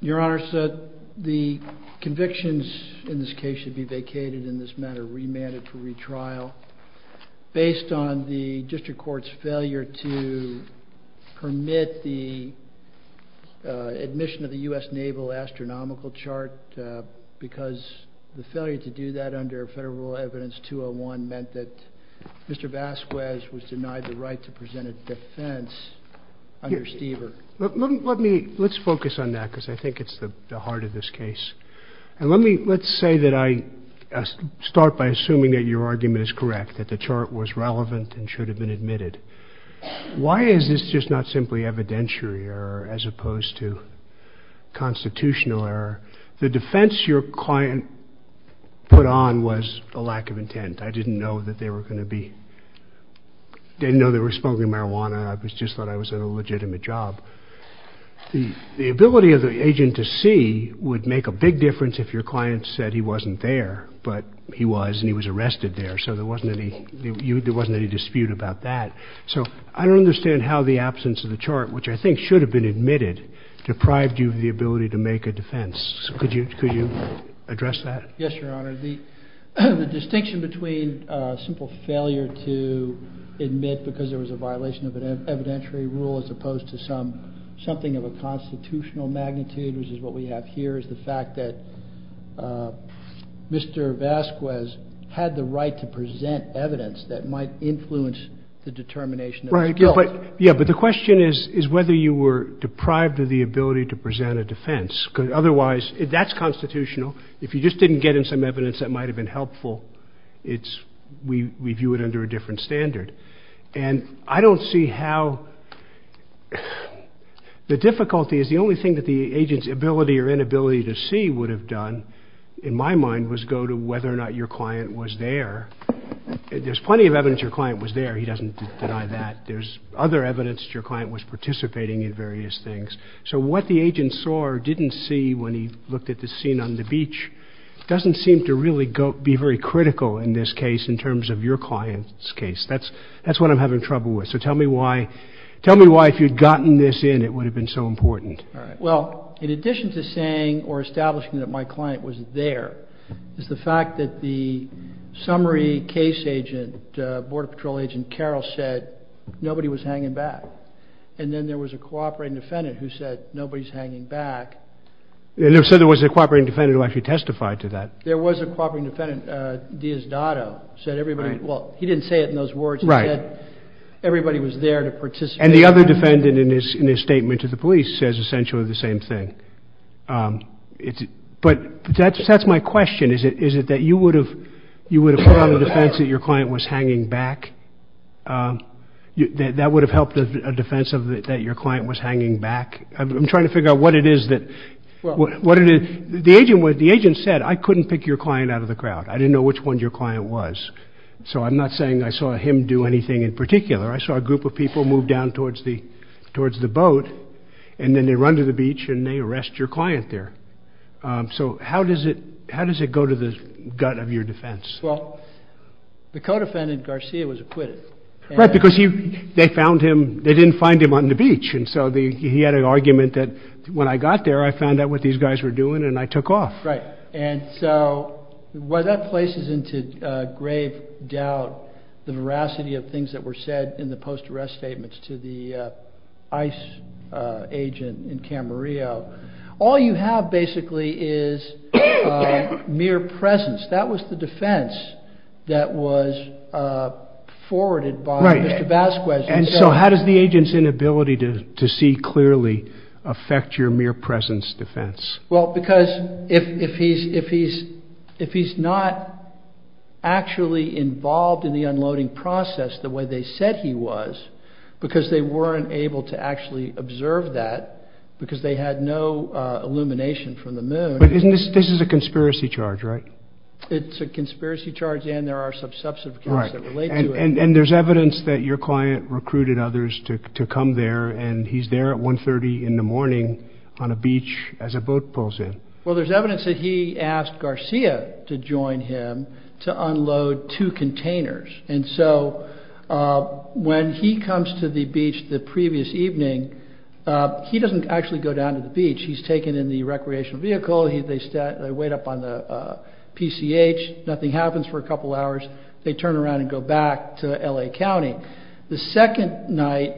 Your Honor, the convictions in this case should be vacated in this matter, remanded for retrial, based on the District Court's failure to permit the admission of the U.S. Naval Astronomical Chart because the failure to do that under Federal Evidence 201 meant that Mr. Vasquez was denied the right to present a defense under Stever. Let's focus on that because I think it's the heart of this case. Let's start by assuming that your argument is correct, that the chart was relevant and should have been admitted. Why is this just not simply evidentiary error as opposed to constitutional error? The defense your client put on was a lack of intent. I didn't know that they were going to be, I didn't know they were smoking marijuana. I just thought I was at a legitimate job. The ability of the agent to see would make a big difference if your client said he wasn't there, but he was and he was arrested there, so there wasn't any dispute about that. So I don't understand how the absence of the chart, which I think should have been admitted, deprived you of the ability to make a defense. Could you address that? Yes, Your Honor. The distinction between a simple failure to admit because there was a violation of an evidentiary rule as opposed to something of a constitutional magnitude, which is what we have here, is the fact that Mr. Vasquez had the right to present evidence that might influence the determination of his guilt. Yeah, but the question is whether you were deprived of the ability to present a defense because otherwise, that's constitutional. If you just didn't get in some evidence that might have been helpful, we view it under a different standard. And I don't see how the difficulty is the only thing that the agent's ability or inability to see would have done, in my mind, was go to whether or not your client was there. There's plenty of evidence your client was there. He doesn't deny that. There's other evidence that your client was participating in various things. So what the agent saw or didn't see when he looked at the scene on the beach doesn't seem to really be very critical in this case in terms of your client's case. That's what I'm having trouble with. So tell me why. Tell me why if you'd gotten this in, it would have been so important. All right. Well, in addition to saying or establishing that my client was there is the fact that the summary case agent, Border Patrol agent Carroll, said nobody was hanging back. And then there was a cooperating defendant who said nobody's hanging back. And so there was a cooperating defendant who actually testified to that. There was a cooperating defendant, Diaz-Dado, said everybody, well, he didn't say it in those words, he said everybody was there to participate. And the other defendant, in his statement to the police, says essentially the same thing. But that's my question. Is it that you would have put on a defense that your client was hanging back? That would have helped a defense that your client was hanging back? I'm trying to figure out what it is that, what it is. The agent said, I couldn't pick your client out of the crowd. I didn't know which one your client was. So I'm not saying I saw him do anything in particular. I saw a group of people move down towards the boat and then they run to the beach and they arrest your client there. So how does it, how does it go to the gut of your defense? Well, the co-defendant Garcia was acquitted. Right, because they found him, they didn't find him on the beach. And so he had an argument that when I got there, I found out what these guys were doing and I took off. Right. And so while that places into grave doubt the veracity of things that were said in the post-arrest statements to the ICE agent in Camarillo, all you have basically is mere presence. That was the defense that was forwarded by Mr. Vasquez. And so how does the agent's inability to see clearly affect your mere presence defense? Well, because if he's not actually involved in the unloading process the way they said he was, because they weren't able to actually observe that because they had no illumination from the moon. But isn't this, this is a conspiracy charge, right? It's a conspiracy charge and there are some subset of cases that relate to it. And there's evidence that your client recruited others to come there and he's there at 1.30 in the morning on a beach as a boat pulls in. Well, there's evidence that he asked Garcia to join him to unload two containers. And so when he comes to the beach the previous evening, he doesn't actually go down to the beach. He's taken in the recreational vehicle. They wait up on the PCH. Nothing happens for a couple hours. They turn around and go back to L.A. County. The second night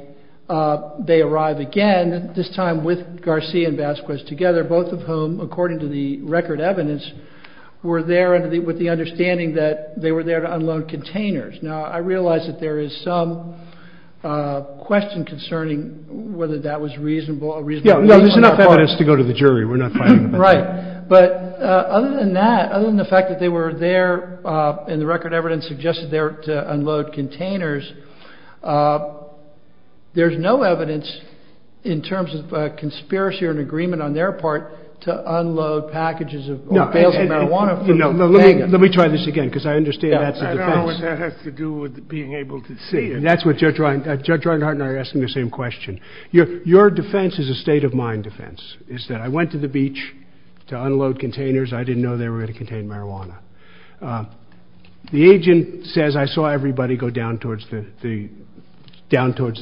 they arrive again, this time with Garcia and Vasquez together, both of whom, according to the record evidence, were there with the understanding that they were there to unload containers. Now, I realize that there is some question concerning whether that was reasonable or reasonable. Yeah, there's enough evidence to go to the jury. We're not fighting about that. Right. But other than that, other than the fact that they were there and the record evidence suggested they were to unload containers, there's no evidence in terms of a conspiracy or an agreement on their part to unload packages or bales of marijuana from Las Vegas. Let me try this again because I understand that's a defense. I don't know what that has to do with being able to see. That's what Judge Reinhart and I are asking the same question. Your defense is a state-of-mind defense. It's that I went to the beach to unload containers. I didn't know they were going to contain marijuana. The agent says, I saw everybody go down towards the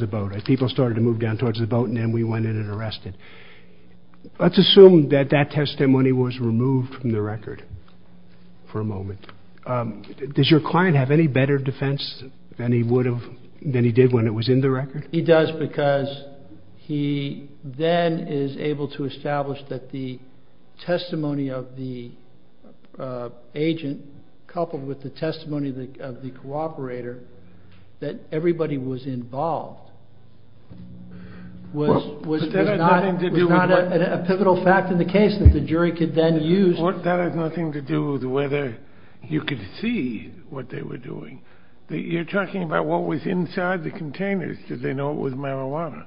boat. People started to move down towards the boat and then we went in and arrested. Let's assume that that testimony was removed from the record for a moment. Does your client have any better defense than he did when it was in the record? He does because he then is able to establish that the testimony of the agent coupled with the testimony of the cooperator, that everybody was involved, was not a pivotal fact in the case that the jury could then use. That has nothing to do with whether you could see what they were doing. You're talking about what was inside the containers. Did they know it was marijuana?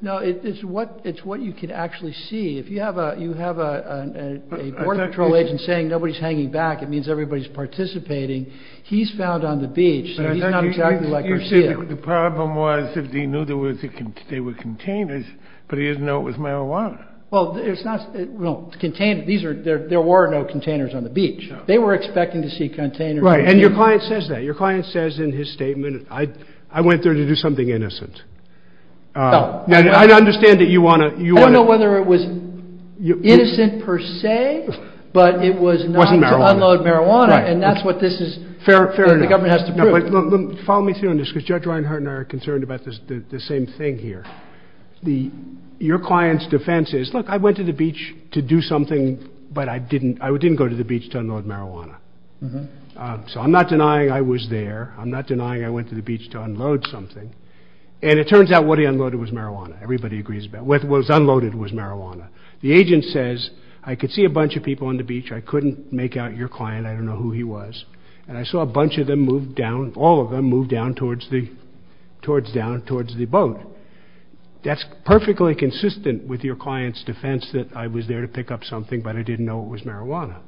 No, it's what you could actually see. If you have a Border Patrol agent saying nobody's hanging back, it means everybody's participating. He's found on the beach. He's not exactly like Garcia. The problem was that he knew they were containers, but he didn't know it was marijuana. There were no containers on the beach. They were expecting to see containers. And your client says that. Your client says in his statement, I went there to do something innocent. I understand that you want to... I don't know whether it was innocent per se, but it was not to unload marijuana. And that's what the government has to prove. Fair enough. Follow me through on this because Judge Reinhart and I are concerned about the same thing here. Your client's defense is, look, I went to the beach to do something, but I didn't go to the beach to unload marijuana. So I'm not denying I was there. I'm not denying I went to the beach to unload something. And it turns out what he unloaded was marijuana. Everybody agrees with that. What was unloaded was marijuana. The agent says, I could see a bunch of people on the beach. I couldn't make out your client. I don't know who he was. And I saw a bunch of them move down, all of them move down towards the boat. That's perfectly consistent with your client's defense that I was there to pick up something, but I didn't know it was marijuana.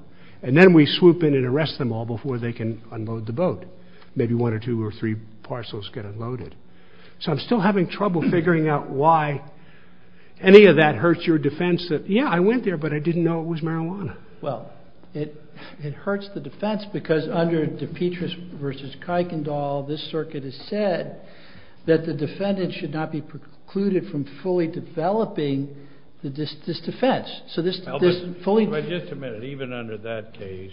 And then we swoop in and arrest them all before they can unload the boat. Maybe one or two or three parcels get unloaded. So I'm still having trouble figuring out why any of that hurts your defense that, yeah, I went there, but I didn't know it was marijuana. Well, it hurts the defense because under DePetris v. Kuykendall, this circuit has said that the defendant should not be precluded from fully developing this defense. Just a minute. Even under that case,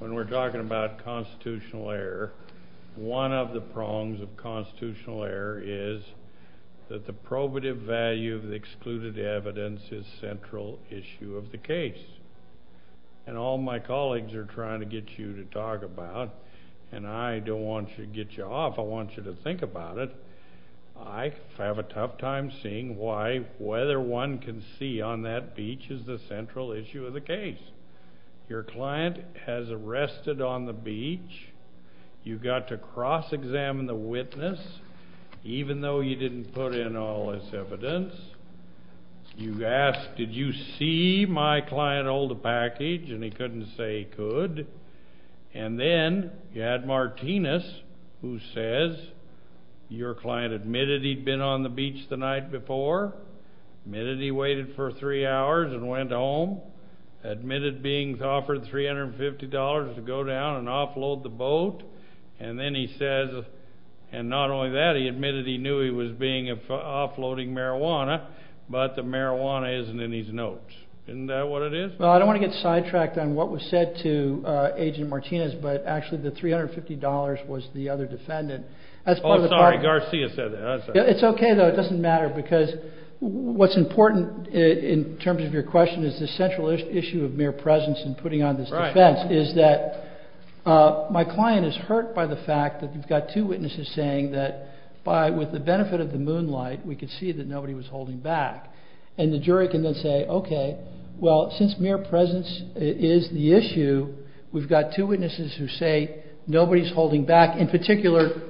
when we're talking about constitutional error, one of the prongs of constitutional error is that the probative value of the excluded evidence is the central issue of the case. And all my colleagues are trying to get you to talk about, and I don't want to get you off, I want you to think about it. I have a tough time seeing why whether one can see on that beach is the central issue of the case. Your client has arrested on the beach. You got to cross-examine the witness, even though you didn't put in all this evidence. You asked, did you see my client hold a package? And he couldn't say he could. And then you had Martinez, who says, your client admitted he'd been on the beach the night before, admitted he waited for three hours and went home, admitted being offered $350 to go down and offload the boat, and then he says, and not only that, he admitted he knew he was offloading marijuana, but the marijuana isn't in his notes. Isn't that what it is? Well, I don't want to get sidetracked on what was said to Agent Martinez, but actually the $350 was the other defendant. I'm sorry, Garcia said that. It's okay, though, it doesn't matter, because what's important in terms of your question is the central issue of mere presence in putting on this defense, is that my client is hurt by the fact that you've got two witnesses saying that with the benefit of the moonlight, we could see that nobody was holding back. And the jury can then say, okay, well, since mere presence is the issue, we've got two witnesses who say nobody's holding back, in particular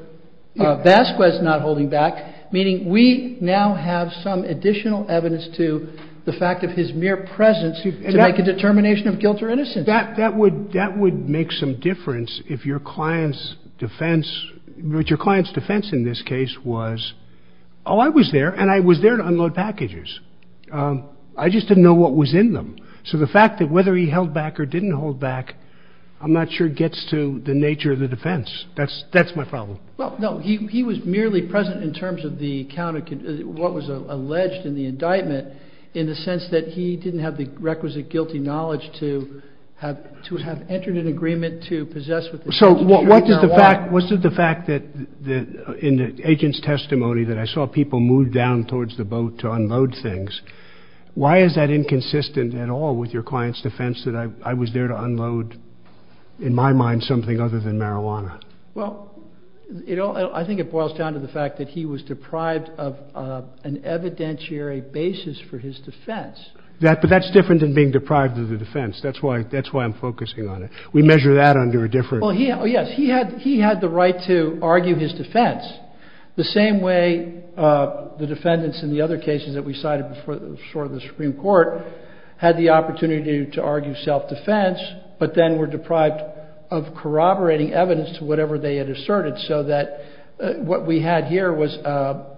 Vasquez not holding back, meaning we now have some additional evidence to the fact of his mere presence to make a determination of guilt or innocence. That would make some difference if your client's defense, your client's defense in this case was, oh, I was there, and I was there to unload packages. I just didn't know what was in them. So the fact that whether he held back or didn't hold back, I'm not sure gets to the nature of the defense. That's my problem. Well, no, he was merely present in terms of what was alleged in the indictment in the sense that he didn't have the requisite guilty knowledge to have entered an agreement to possess with the defendant. So what is the fact that in the agent's testimony that I saw people move down towards the boat to unload things, why is that inconsistent at all with your client's defense that I was there to unload, in my mind, something other than marijuana? Well, I think it boils down to the fact that he was deprived of an evidentiary basis for his defense. But that's different than being deprived of the defense. That's why I'm focusing on it. We measure that under a different… Well, yes, he had the right to argue his defense the same way the defendants in the other cases that we cited before the Supreme Court had the opportunity to argue self-defense but then were deprived of corroborating evidence to whatever they had asserted so that what we had here was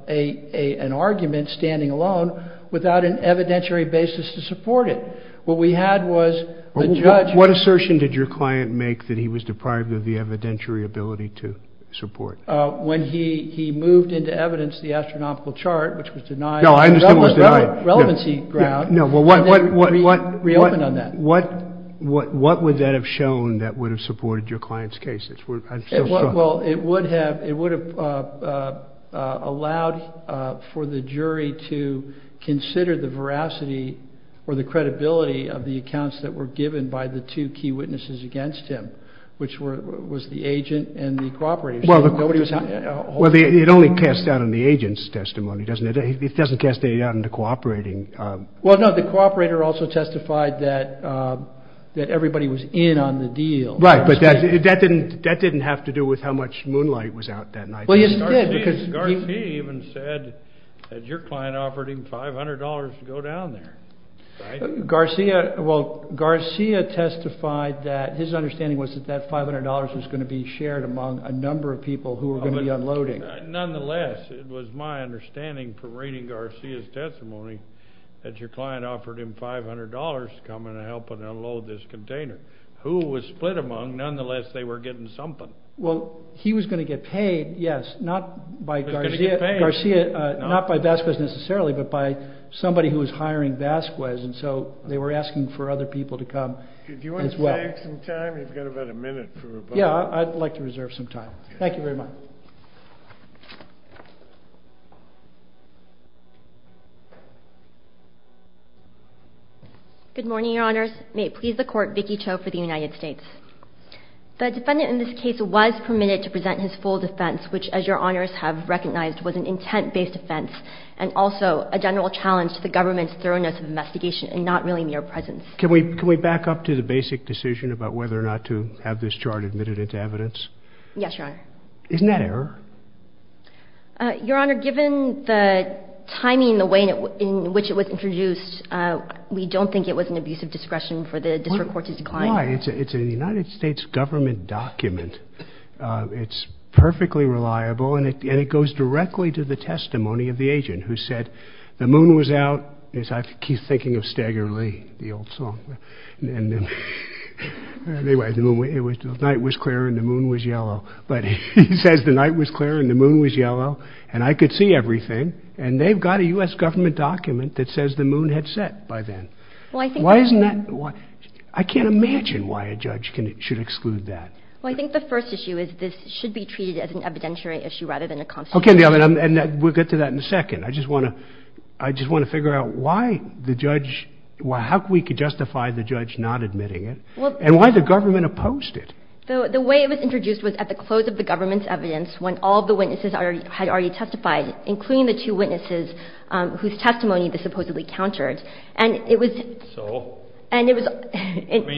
an argument standing alone without an evidentiary basis to support it. What we had was a judge… What assertion did your client make that he was deprived of the evidentiary ability to support? When he moved into evidence the astronomical chart, which was denied… No, I understand it was denied. …relevancy ground… No, well, what… …and then reopened on that. What would that have shown that would have supported your client's case? Well, it would have allowed for the jury to consider the veracity or the credibility of the accounts that were given by the two key witnesses against him, which was the agent and the cooperator. Well, it only casts doubt on the agent's testimony, doesn't it? It doesn't cast any doubt into cooperating. Well, no, the cooperator also testified that everybody was in on the deal. Right, but that didn't have to do with how much moonlight was out that night. Garcia even said that your client offered him $500 to go down there, right? Garcia, well, Garcia testified that his understanding was that that $500 was going to be shared among a number of people who were going to be unloading. Nonetheless, it was my understanding from reading Garcia's testimony that your client offered him $500 to come and help unload this container. Who was split among, nonetheless, they were getting something. Well, he was going to get paid, yes, not by Garcia, not by Vasquez necessarily, but by somebody who was hiring Vasquez, and so they were asking for other people to come as well. Do you want to save some time? You've got about a minute for rebuttal. Yeah, I'd like to reserve some time. Thank you very much. Good morning, Your Honors. May it please the Court, Vicki Cho for the United States. The defendant in this case was permitted to present his full defense, which, as Your Honors have recognized, was an intent-based offense and also a general challenge to the government's thoroughness of investigation and not really mere presence. Can we back up to the basic decision about whether or not to have this chart admitted into evidence? Yes, Your Honor. Isn't that error? Your Honor, given the timing, the way in which it was introduced, we don't think it was an abuse of discretion for the District Court to decline. Why? It's a United States government document. It's perfectly reliable, and it goes directly to the testimony of the agent who said, the moon was out, as I keep thinking of Stagger Lee, the old song. Anyway, the night was clear and the moon was yellow. But he says the night was clear and the moon was yellow, and I could see everything, and they've got a U.S. government document that says the moon had set by then. Why isn't that? I can't imagine why a judge should exclude that. Well, I think the first issue is this should be treated as an evidentiary issue rather than a constitutional issue. Okay, and we'll get to that in a second. I just want to figure out why the judge, how we could justify the judge not admitting it, and why the government opposed it. The way it was introduced was at the close of the government's evidence when all of the witnesses had already testified, including the two witnesses whose testimony they supposedly countered. So? I mean,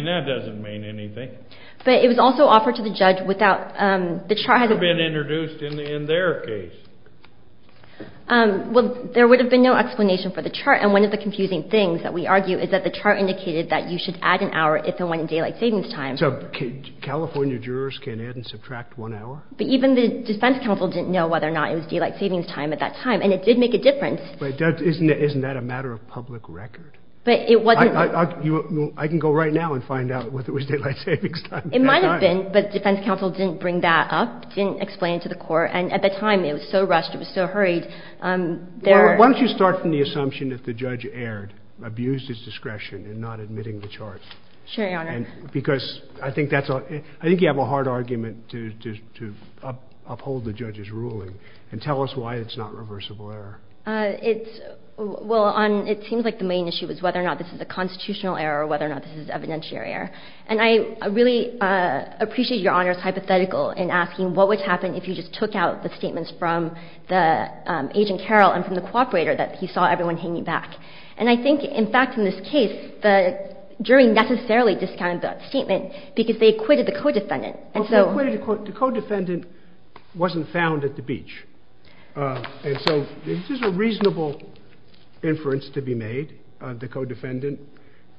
that doesn't mean anything. But it was also offered to the judge without the chart. It would have been introduced in their case. Well, there would have been no explanation for the chart, and one of the confusing things that we argue is that the chart indicated that you should add an hour if and when daylight savings time. So California jurors can add and subtract one hour? But even the defense counsel didn't know whether or not it was daylight savings time at that time, and it did make a difference. Isn't that a matter of public record? But it wasn't. I can go right now and find out whether it was daylight savings time at that time. It might have been, but the defense counsel didn't bring that up, didn't explain it to the court, and at the time it was so rushed, it was so hurried. Why don't you start from the assumption that the judge erred, abused his discretion in not admitting the chart? Sure, Your Honor. Because I think you have a hard argument to uphold the judge's ruling, and tell us why it's not reversible error. Well, it seems like the main issue is whether or not this is a constitutional error or whether or not this is evidentiary error. And I really appreciate Your Honor's hypothetical in asking what would happen if you just took out the statements from the agent Carroll and from the cooperator that he saw everyone hanging back. And I think, in fact, in this case, the jury necessarily discounted that statement because they acquitted the co-defendant. The co-defendant wasn't found at the beach. And so this is a reasonable inference to be made. The co-defendant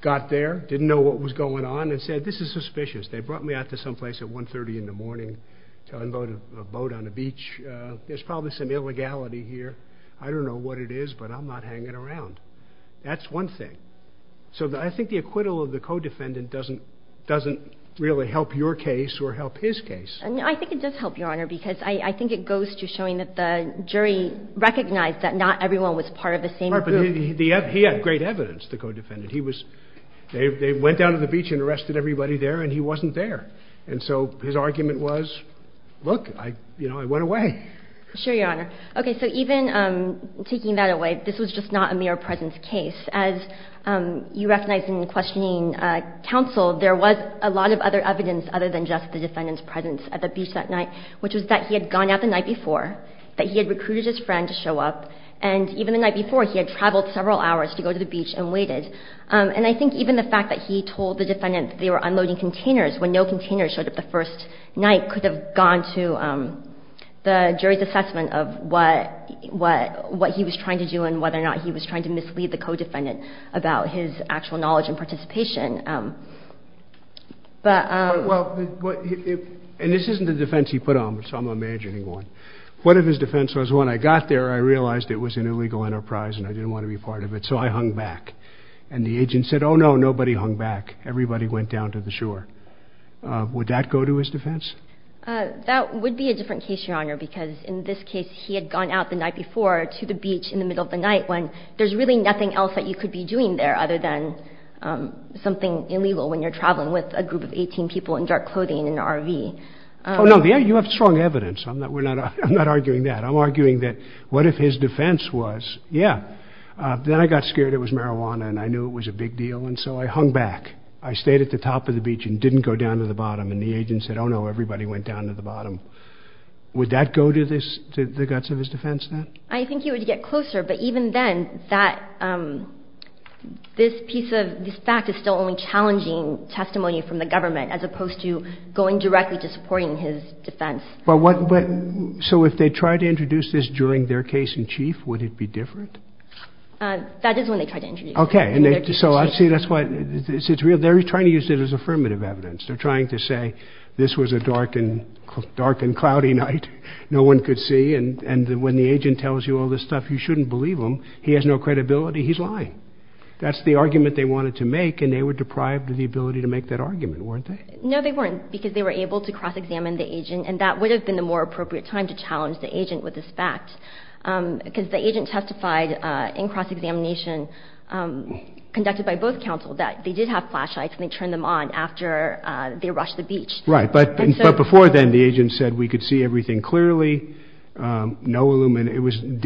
got there, didn't know what was going on, and said, this is suspicious. They brought me out to some place at 1.30 in the morning to unload a boat on a beach. There's probably some illegality here. I don't know what it is, but I'm not hanging around. That's one thing. So I think the acquittal of the co-defendant doesn't really help your case or help his case. I think it does help, Your Honor, because I think it goes to showing that the jury recognized that not everyone was part of the same group. But he had great evidence, the co-defendant. They went down to the beach and arrested everybody there, and he wasn't there. And so his argument was, look, I went away. Sure, Your Honor. Okay, so even taking that away, this was just not a mere presence case. As you recognize in questioning counsel, there was a lot of other evidence other than just the defendant's presence at the beach that night, which was that he had gone out the night before, that he had recruited his friend to show up, and even the night before he had traveled several hours to go to the beach and waited. And I think even the fact that he told the defendant that they were unloading containers when no containers showed up the first night could have gone to the jury's assessment of what he was trying to do and whether or not he was trying to mislead the co-defendant about his actual knowledge and participation. And this isn't the defense he put on me, so I'm imagining one. What if his defense was, when I got there, I realized it was an illegal enterprise and I didn't want to be part of it, so I hung back. And the agent said, oh, no, nobody hung back. Everybody went down to the shore. Would that go to his defense? That would be a different case, Your Honor, because in this case, he had gone out the night before to the beach in the middle of the night when there's really nothing else that you could be doing there other than something illegal when you're traveling with a group of 18 people in dark clothing in an RV. Oh, no, you have strong evidence. I'm not arguing that. I'm arguing that what if his defense was, yeah, then I got scared it was marijuana and I knew it was a big deal, and so I hung back. I stayed at the top of the beach and didn't go down to the bottom, and the agent said, oh, no, everybody went down to the bottom. Would that go to the guts of his defense then? I think it would get closer, but even then, this piece of this fact is still only challenging testimony from the government as opposed to going directly to supporting his defense. So if they tried to introduce this during their case in chief, would it be different? That is when they tried to introduce it. Okay, so I see that's why it's real. They're trying to use it as affirmative evidence. They're trying to say this was a dark and cloudy night, no one could see, and when the agent tells you all this stuff, you shouldn't believe him. He has no credibility. He's lying. That's the argument they wanted to make, and they were deprived of the ability to make that argument, weren't they? No, they weren't, because they were able to cross-examine the agent, and that would have been the more appropriate time to challenge the agent with this fact because the agent testified in cross-examination conducted by both counsel that they did have flashlights, and they turned them on after they rushed the beach. Right, but before then, the agent said, we could see everything clearly, didn't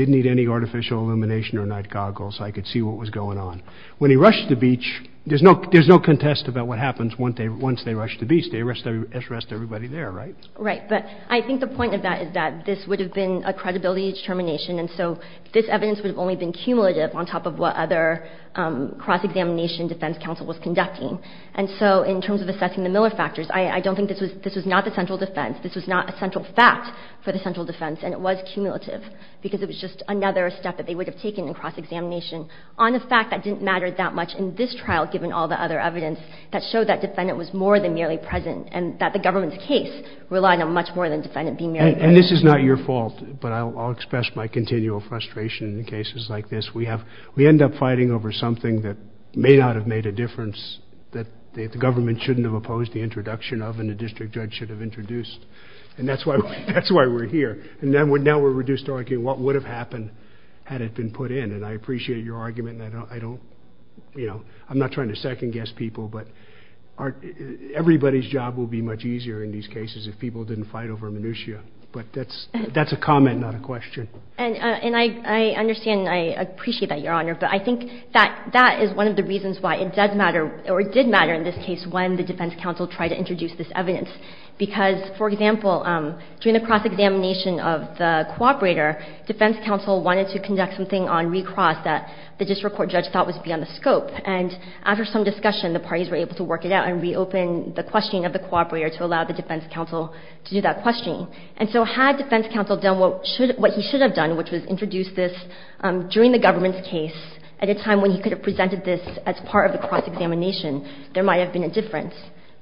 need any artificial illumination or night goggles, so I could see what was going on. When he rushed the beach, there's no contest about what happens once they rush the beach. They arrest everybody there, right? Right, but I think the point of that is that this would have been a credibility determination, and so this evidence would have only been cumulative on top of what other cross-examination defense counsel was conducting. And so in terms of assessing the Miller factors, I don't think this was not the central defense. This was not a central fact for the central defense, and it was cumulative because it was just another step that they would have taken in cross-examination on a fact that didn't matter that much in this trial, given all the other evidence, that showed that defendant was more than merely present and that the government's case relied on much more than defendant being merely present. And this is not your fault, but I'll express my continual frustration in cases like this. We end up fighting over something that may not have made a difference, that the government shouldn't have opposed the introduction of, and the district judge should have introduced. And that's why we're here. And now we're reduced to arguing what would have happened had it been put in. And I appreciate your argument, and I'm not trying to second-guess people, but everybody's job will be much easier in these cases if people didn't fight over minutia. But that's a comment, not a question. And I understand and I appreciate that, Your Honor, but I think that that is one of the reasons why it does matter, or it did matter in this case when the defense counsel tried to introduce this evidence. Because, for example, during the cross-examination of the cooperator, defense counsel wanted to conduct something on recross that the district court judge thought was beyond the scope. And after some discussion, the parties were able to work it out and reopen the question of the cooperator to allow the defense counsel to do that questioning. And so had defense counsel done what he should have done, which was introduce this during the government's case at a time when he could have presented this as part of the cross-examination, there might have been a difference.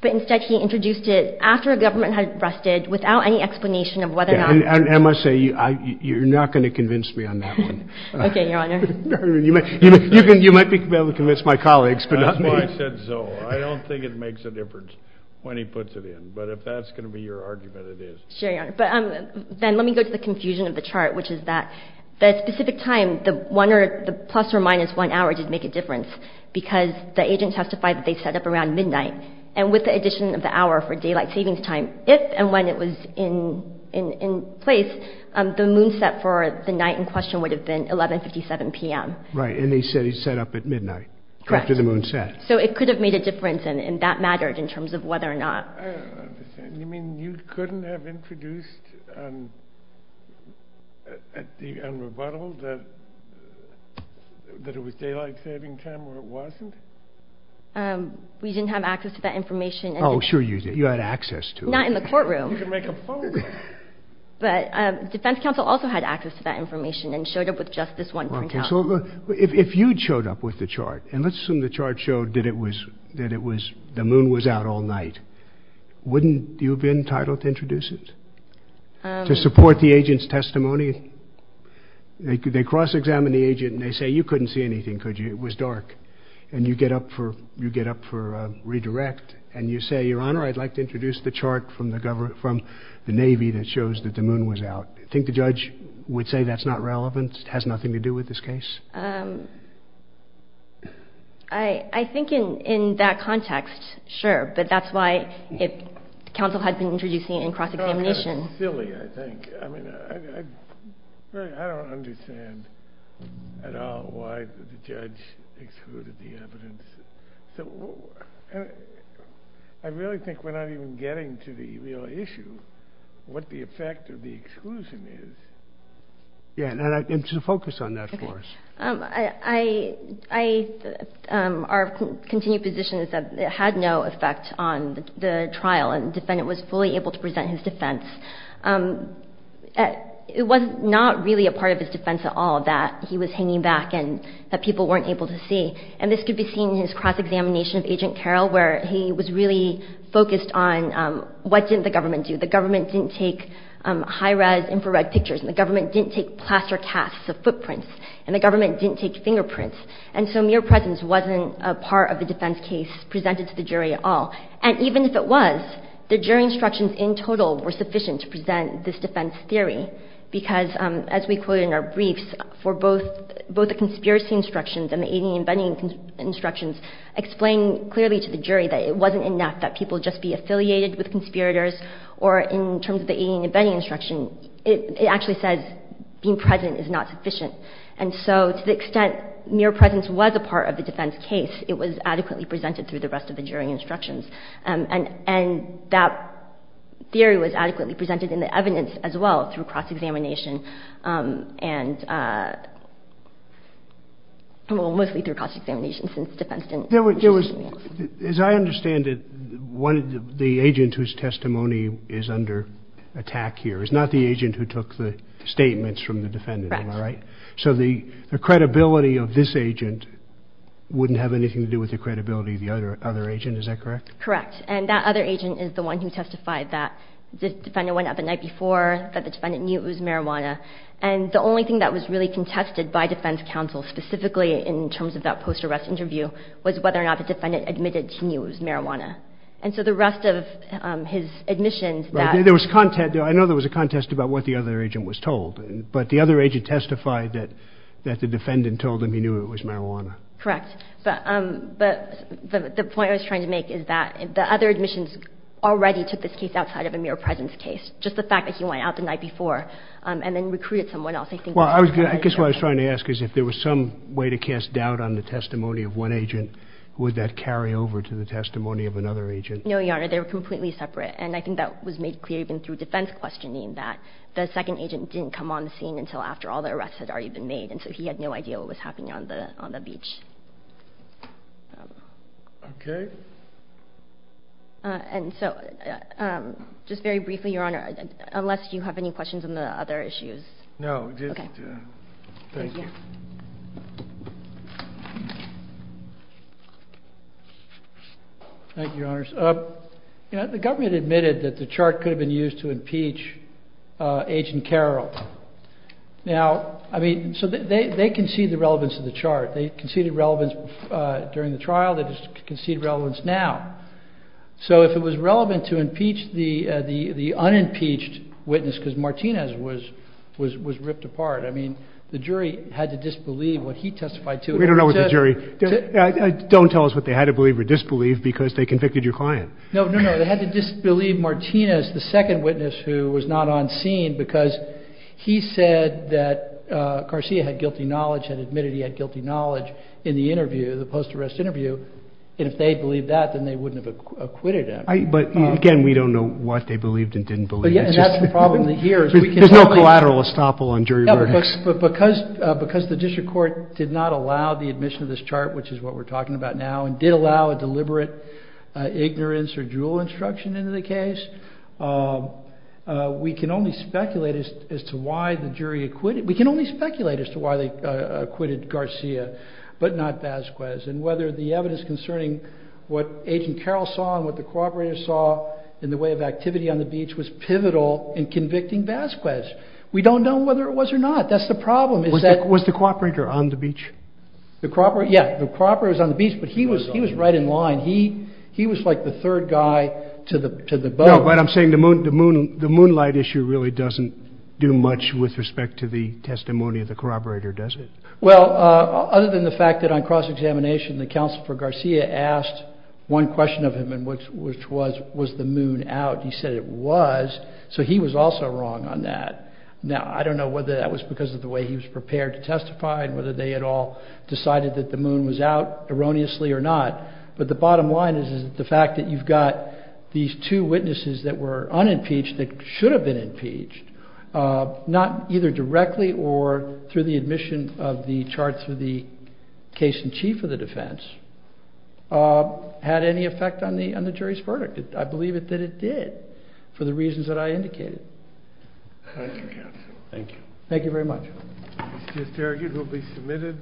But instead, he introduced it after a government had arrested without any explanation of whether or not. And I must say, you're not going to convince me on that one. Okay, Your Honor. You might be able to convince my colleagues, but not me. That's why I said so. I don't think it makes a difference when he puts it in. But if that's going to be your argument, it is. Sure, Your Honor. But then let me go to the confusion of the chart, which is that the specific time, the plus or minus one hour did make a difference because the agent testified that they set up around midnight. And with the addition of the hour for daylight savings time, if and when it was in place, the moon set for the night in question would have been 1157 p.m. Right. And they said he set up at midnight after the moon set. Correct. So it could have made a difference, and that mattered in terms of whether or not. I don't understand. You mean you couldn't have introduced and rebuttaled that it was daylight saving time or it wasn't? We didn't have access to that information. Oh, sure you did. You had access to it. Not in the courtroom. You could make a phone call. But defense counsel also had access to that information and showed up with just this one printout. If you showed up with the chart, and let's assume the chart showed that the moon was out all night, wouldn't you have been entitled to introduce it to support the agent's testimony? They cross-examine the agent, and they say, you couldn't see anything, could you? It was dark. And you get up for redirect, and you say, Your Honor, I'd like to introduce the chart from the Navy that shows that the moon was out. Do you think the judge would say that's not relevant, has nothing to do with this case? I think in that context, sure. But that's why counsel had to introduce it in cross-examination. That's silly, I think. I don't understand at all why the judge excluded the evidence. I really think we're not even getting to the real issue, what the effect of the exclusion is. And to focus on that for us. Our continued position is that it had no effect on the trial, and the defendant was fully able to present his defense. It was not really a part of his defense at all that he was hanging back and that people weren't able to see. And this could be seen in his cross-examination of Agent Carroll, where he was really focused on what didn't the government do. The government didn't take high-res infrared pictures, and the government didn't take plaster casts of footprints, and the government didn't take fingerprints. And so mere presence wasn't a part of the defense case presented to the jury at all. And even if it was, the jury instructions in total were sufficient to present this defense theory, because as we quote in our briefs, for both the conspiracy instructions and the alien embedding instructions, explain clearly to the jury that it wasn't enough that people just be affiliated with conspirators, or in terms of the alien embedding instruction, it actually says being present is not sufficient. And so to the extent mere presence was a part of the defense case, it was adequately presented through the rest of the jury instructions. And that theory was adequately presented in the evidence as well through cross-examination, and mostly through cross-examination since defense didn't do anything else. As I understand it, the agent whose testimony is under attack here is not the agent who took the statements from the defendant. Correct. Am I right? So the credibility of this agent wouldn't have anything to do with the credibility of the other agent. Is that correct? Correct. And that other agent is the one who testified that the defendant went out the night before, that the defendant knew it was marijuana. And the only thing that was really contested by defense counsel, specifically in terms of that post-arrest interview, was whether or not the defendant admitted he knew it was marijuana. And so the rest of his admissions that— I know there was a contest about what the other agent was told, but the other agent testified that the defendant told him he knew it was marijuana. Correct. But the point I was trying to make is that the other admissions already took this case outside of a mere presence case, just the fact that he went out the night before and then recruited someone else. I guess what I was trying to ask is if there was some way to cast doubt on the testimony of one agent, would that carry over to the testimony of another agent? No, Your Honor. They were completely separate. And I think that was made clear even through defense questioning, that the second agent didn't come on the scene until after all the arrests had already been made, and so he had no idea what was happening on the beach. Okay. And so just very briefly, Your Honor, unless you have any questions on the other issues. No. Okay. Thank you. Thank you, Your Honors. The government admitted that the chart could have been used to impeach Agent Carroll. Now, I mean, so they conceded the relevance of the chart. They conceded relevance during the trial. They conceded relevance now. So if it was relevant to impeach the unimpeached witness because Martinez was ripped apart, I mean, the jury had to disbelieve what he testified to. We don't know what the jury did. Don't tell us what they had to believe or disbelieve because they convicted your client. No, no, no. They had to disbelieve Martinez, the second witness who was not on scene, because he said that Garcia had guilty knowledge and admitted he had guilty knowledge in the interview, the post-arrest interview, and if they had believed that, then they wouldn't have acquitted him. But, again, we don't know what they believed and didn't believe. And that's the problem here. There's no collateral estoppel on jury verdicts. But because the district court did not allow the admission of this chart, which is what we're talking about now, and did allow a deliberate ignorance or jewel instruction into the case, we can only speculate as to why the jury acquitted. We can only speculate as to why they acquitted Garcia but not Vasquez and whether the evidence concerning what Agent Carroll saw and what the cooperators saw in the way of activity on the beach was pivotal in convicting Vasquez. We don't know whether it was or not. That's the problem. Was the cooperator on the beach? The cooperator? Yeah, the cooperator was on the beach, but he was right in line. He was like the third guy to the boat. No, but I'm saying the moonlight issue really doesn't do much with respect to the testimony of the corroborator, does it? Well, other than the fact that on cross-examination, the counsel for Garcia asked one question of him, which was, was the moon out? He said it was, so he was also wrong on that. Now, I don't know whether that was because of the way he was prepared to testify and whether they had all decided that the moon was out erroneously or not, but the bottom line is the fact that you've got these two witnesses that were unimpeached that should have been impeached, not either directly or through the admission of the chart through the case in chief of the defense, had any effect on the jury's verdict. I believe that it did for the reasons that I indicated. Thank you, counsel. Thank you. Thank you very much. It's just argued it will be submitted.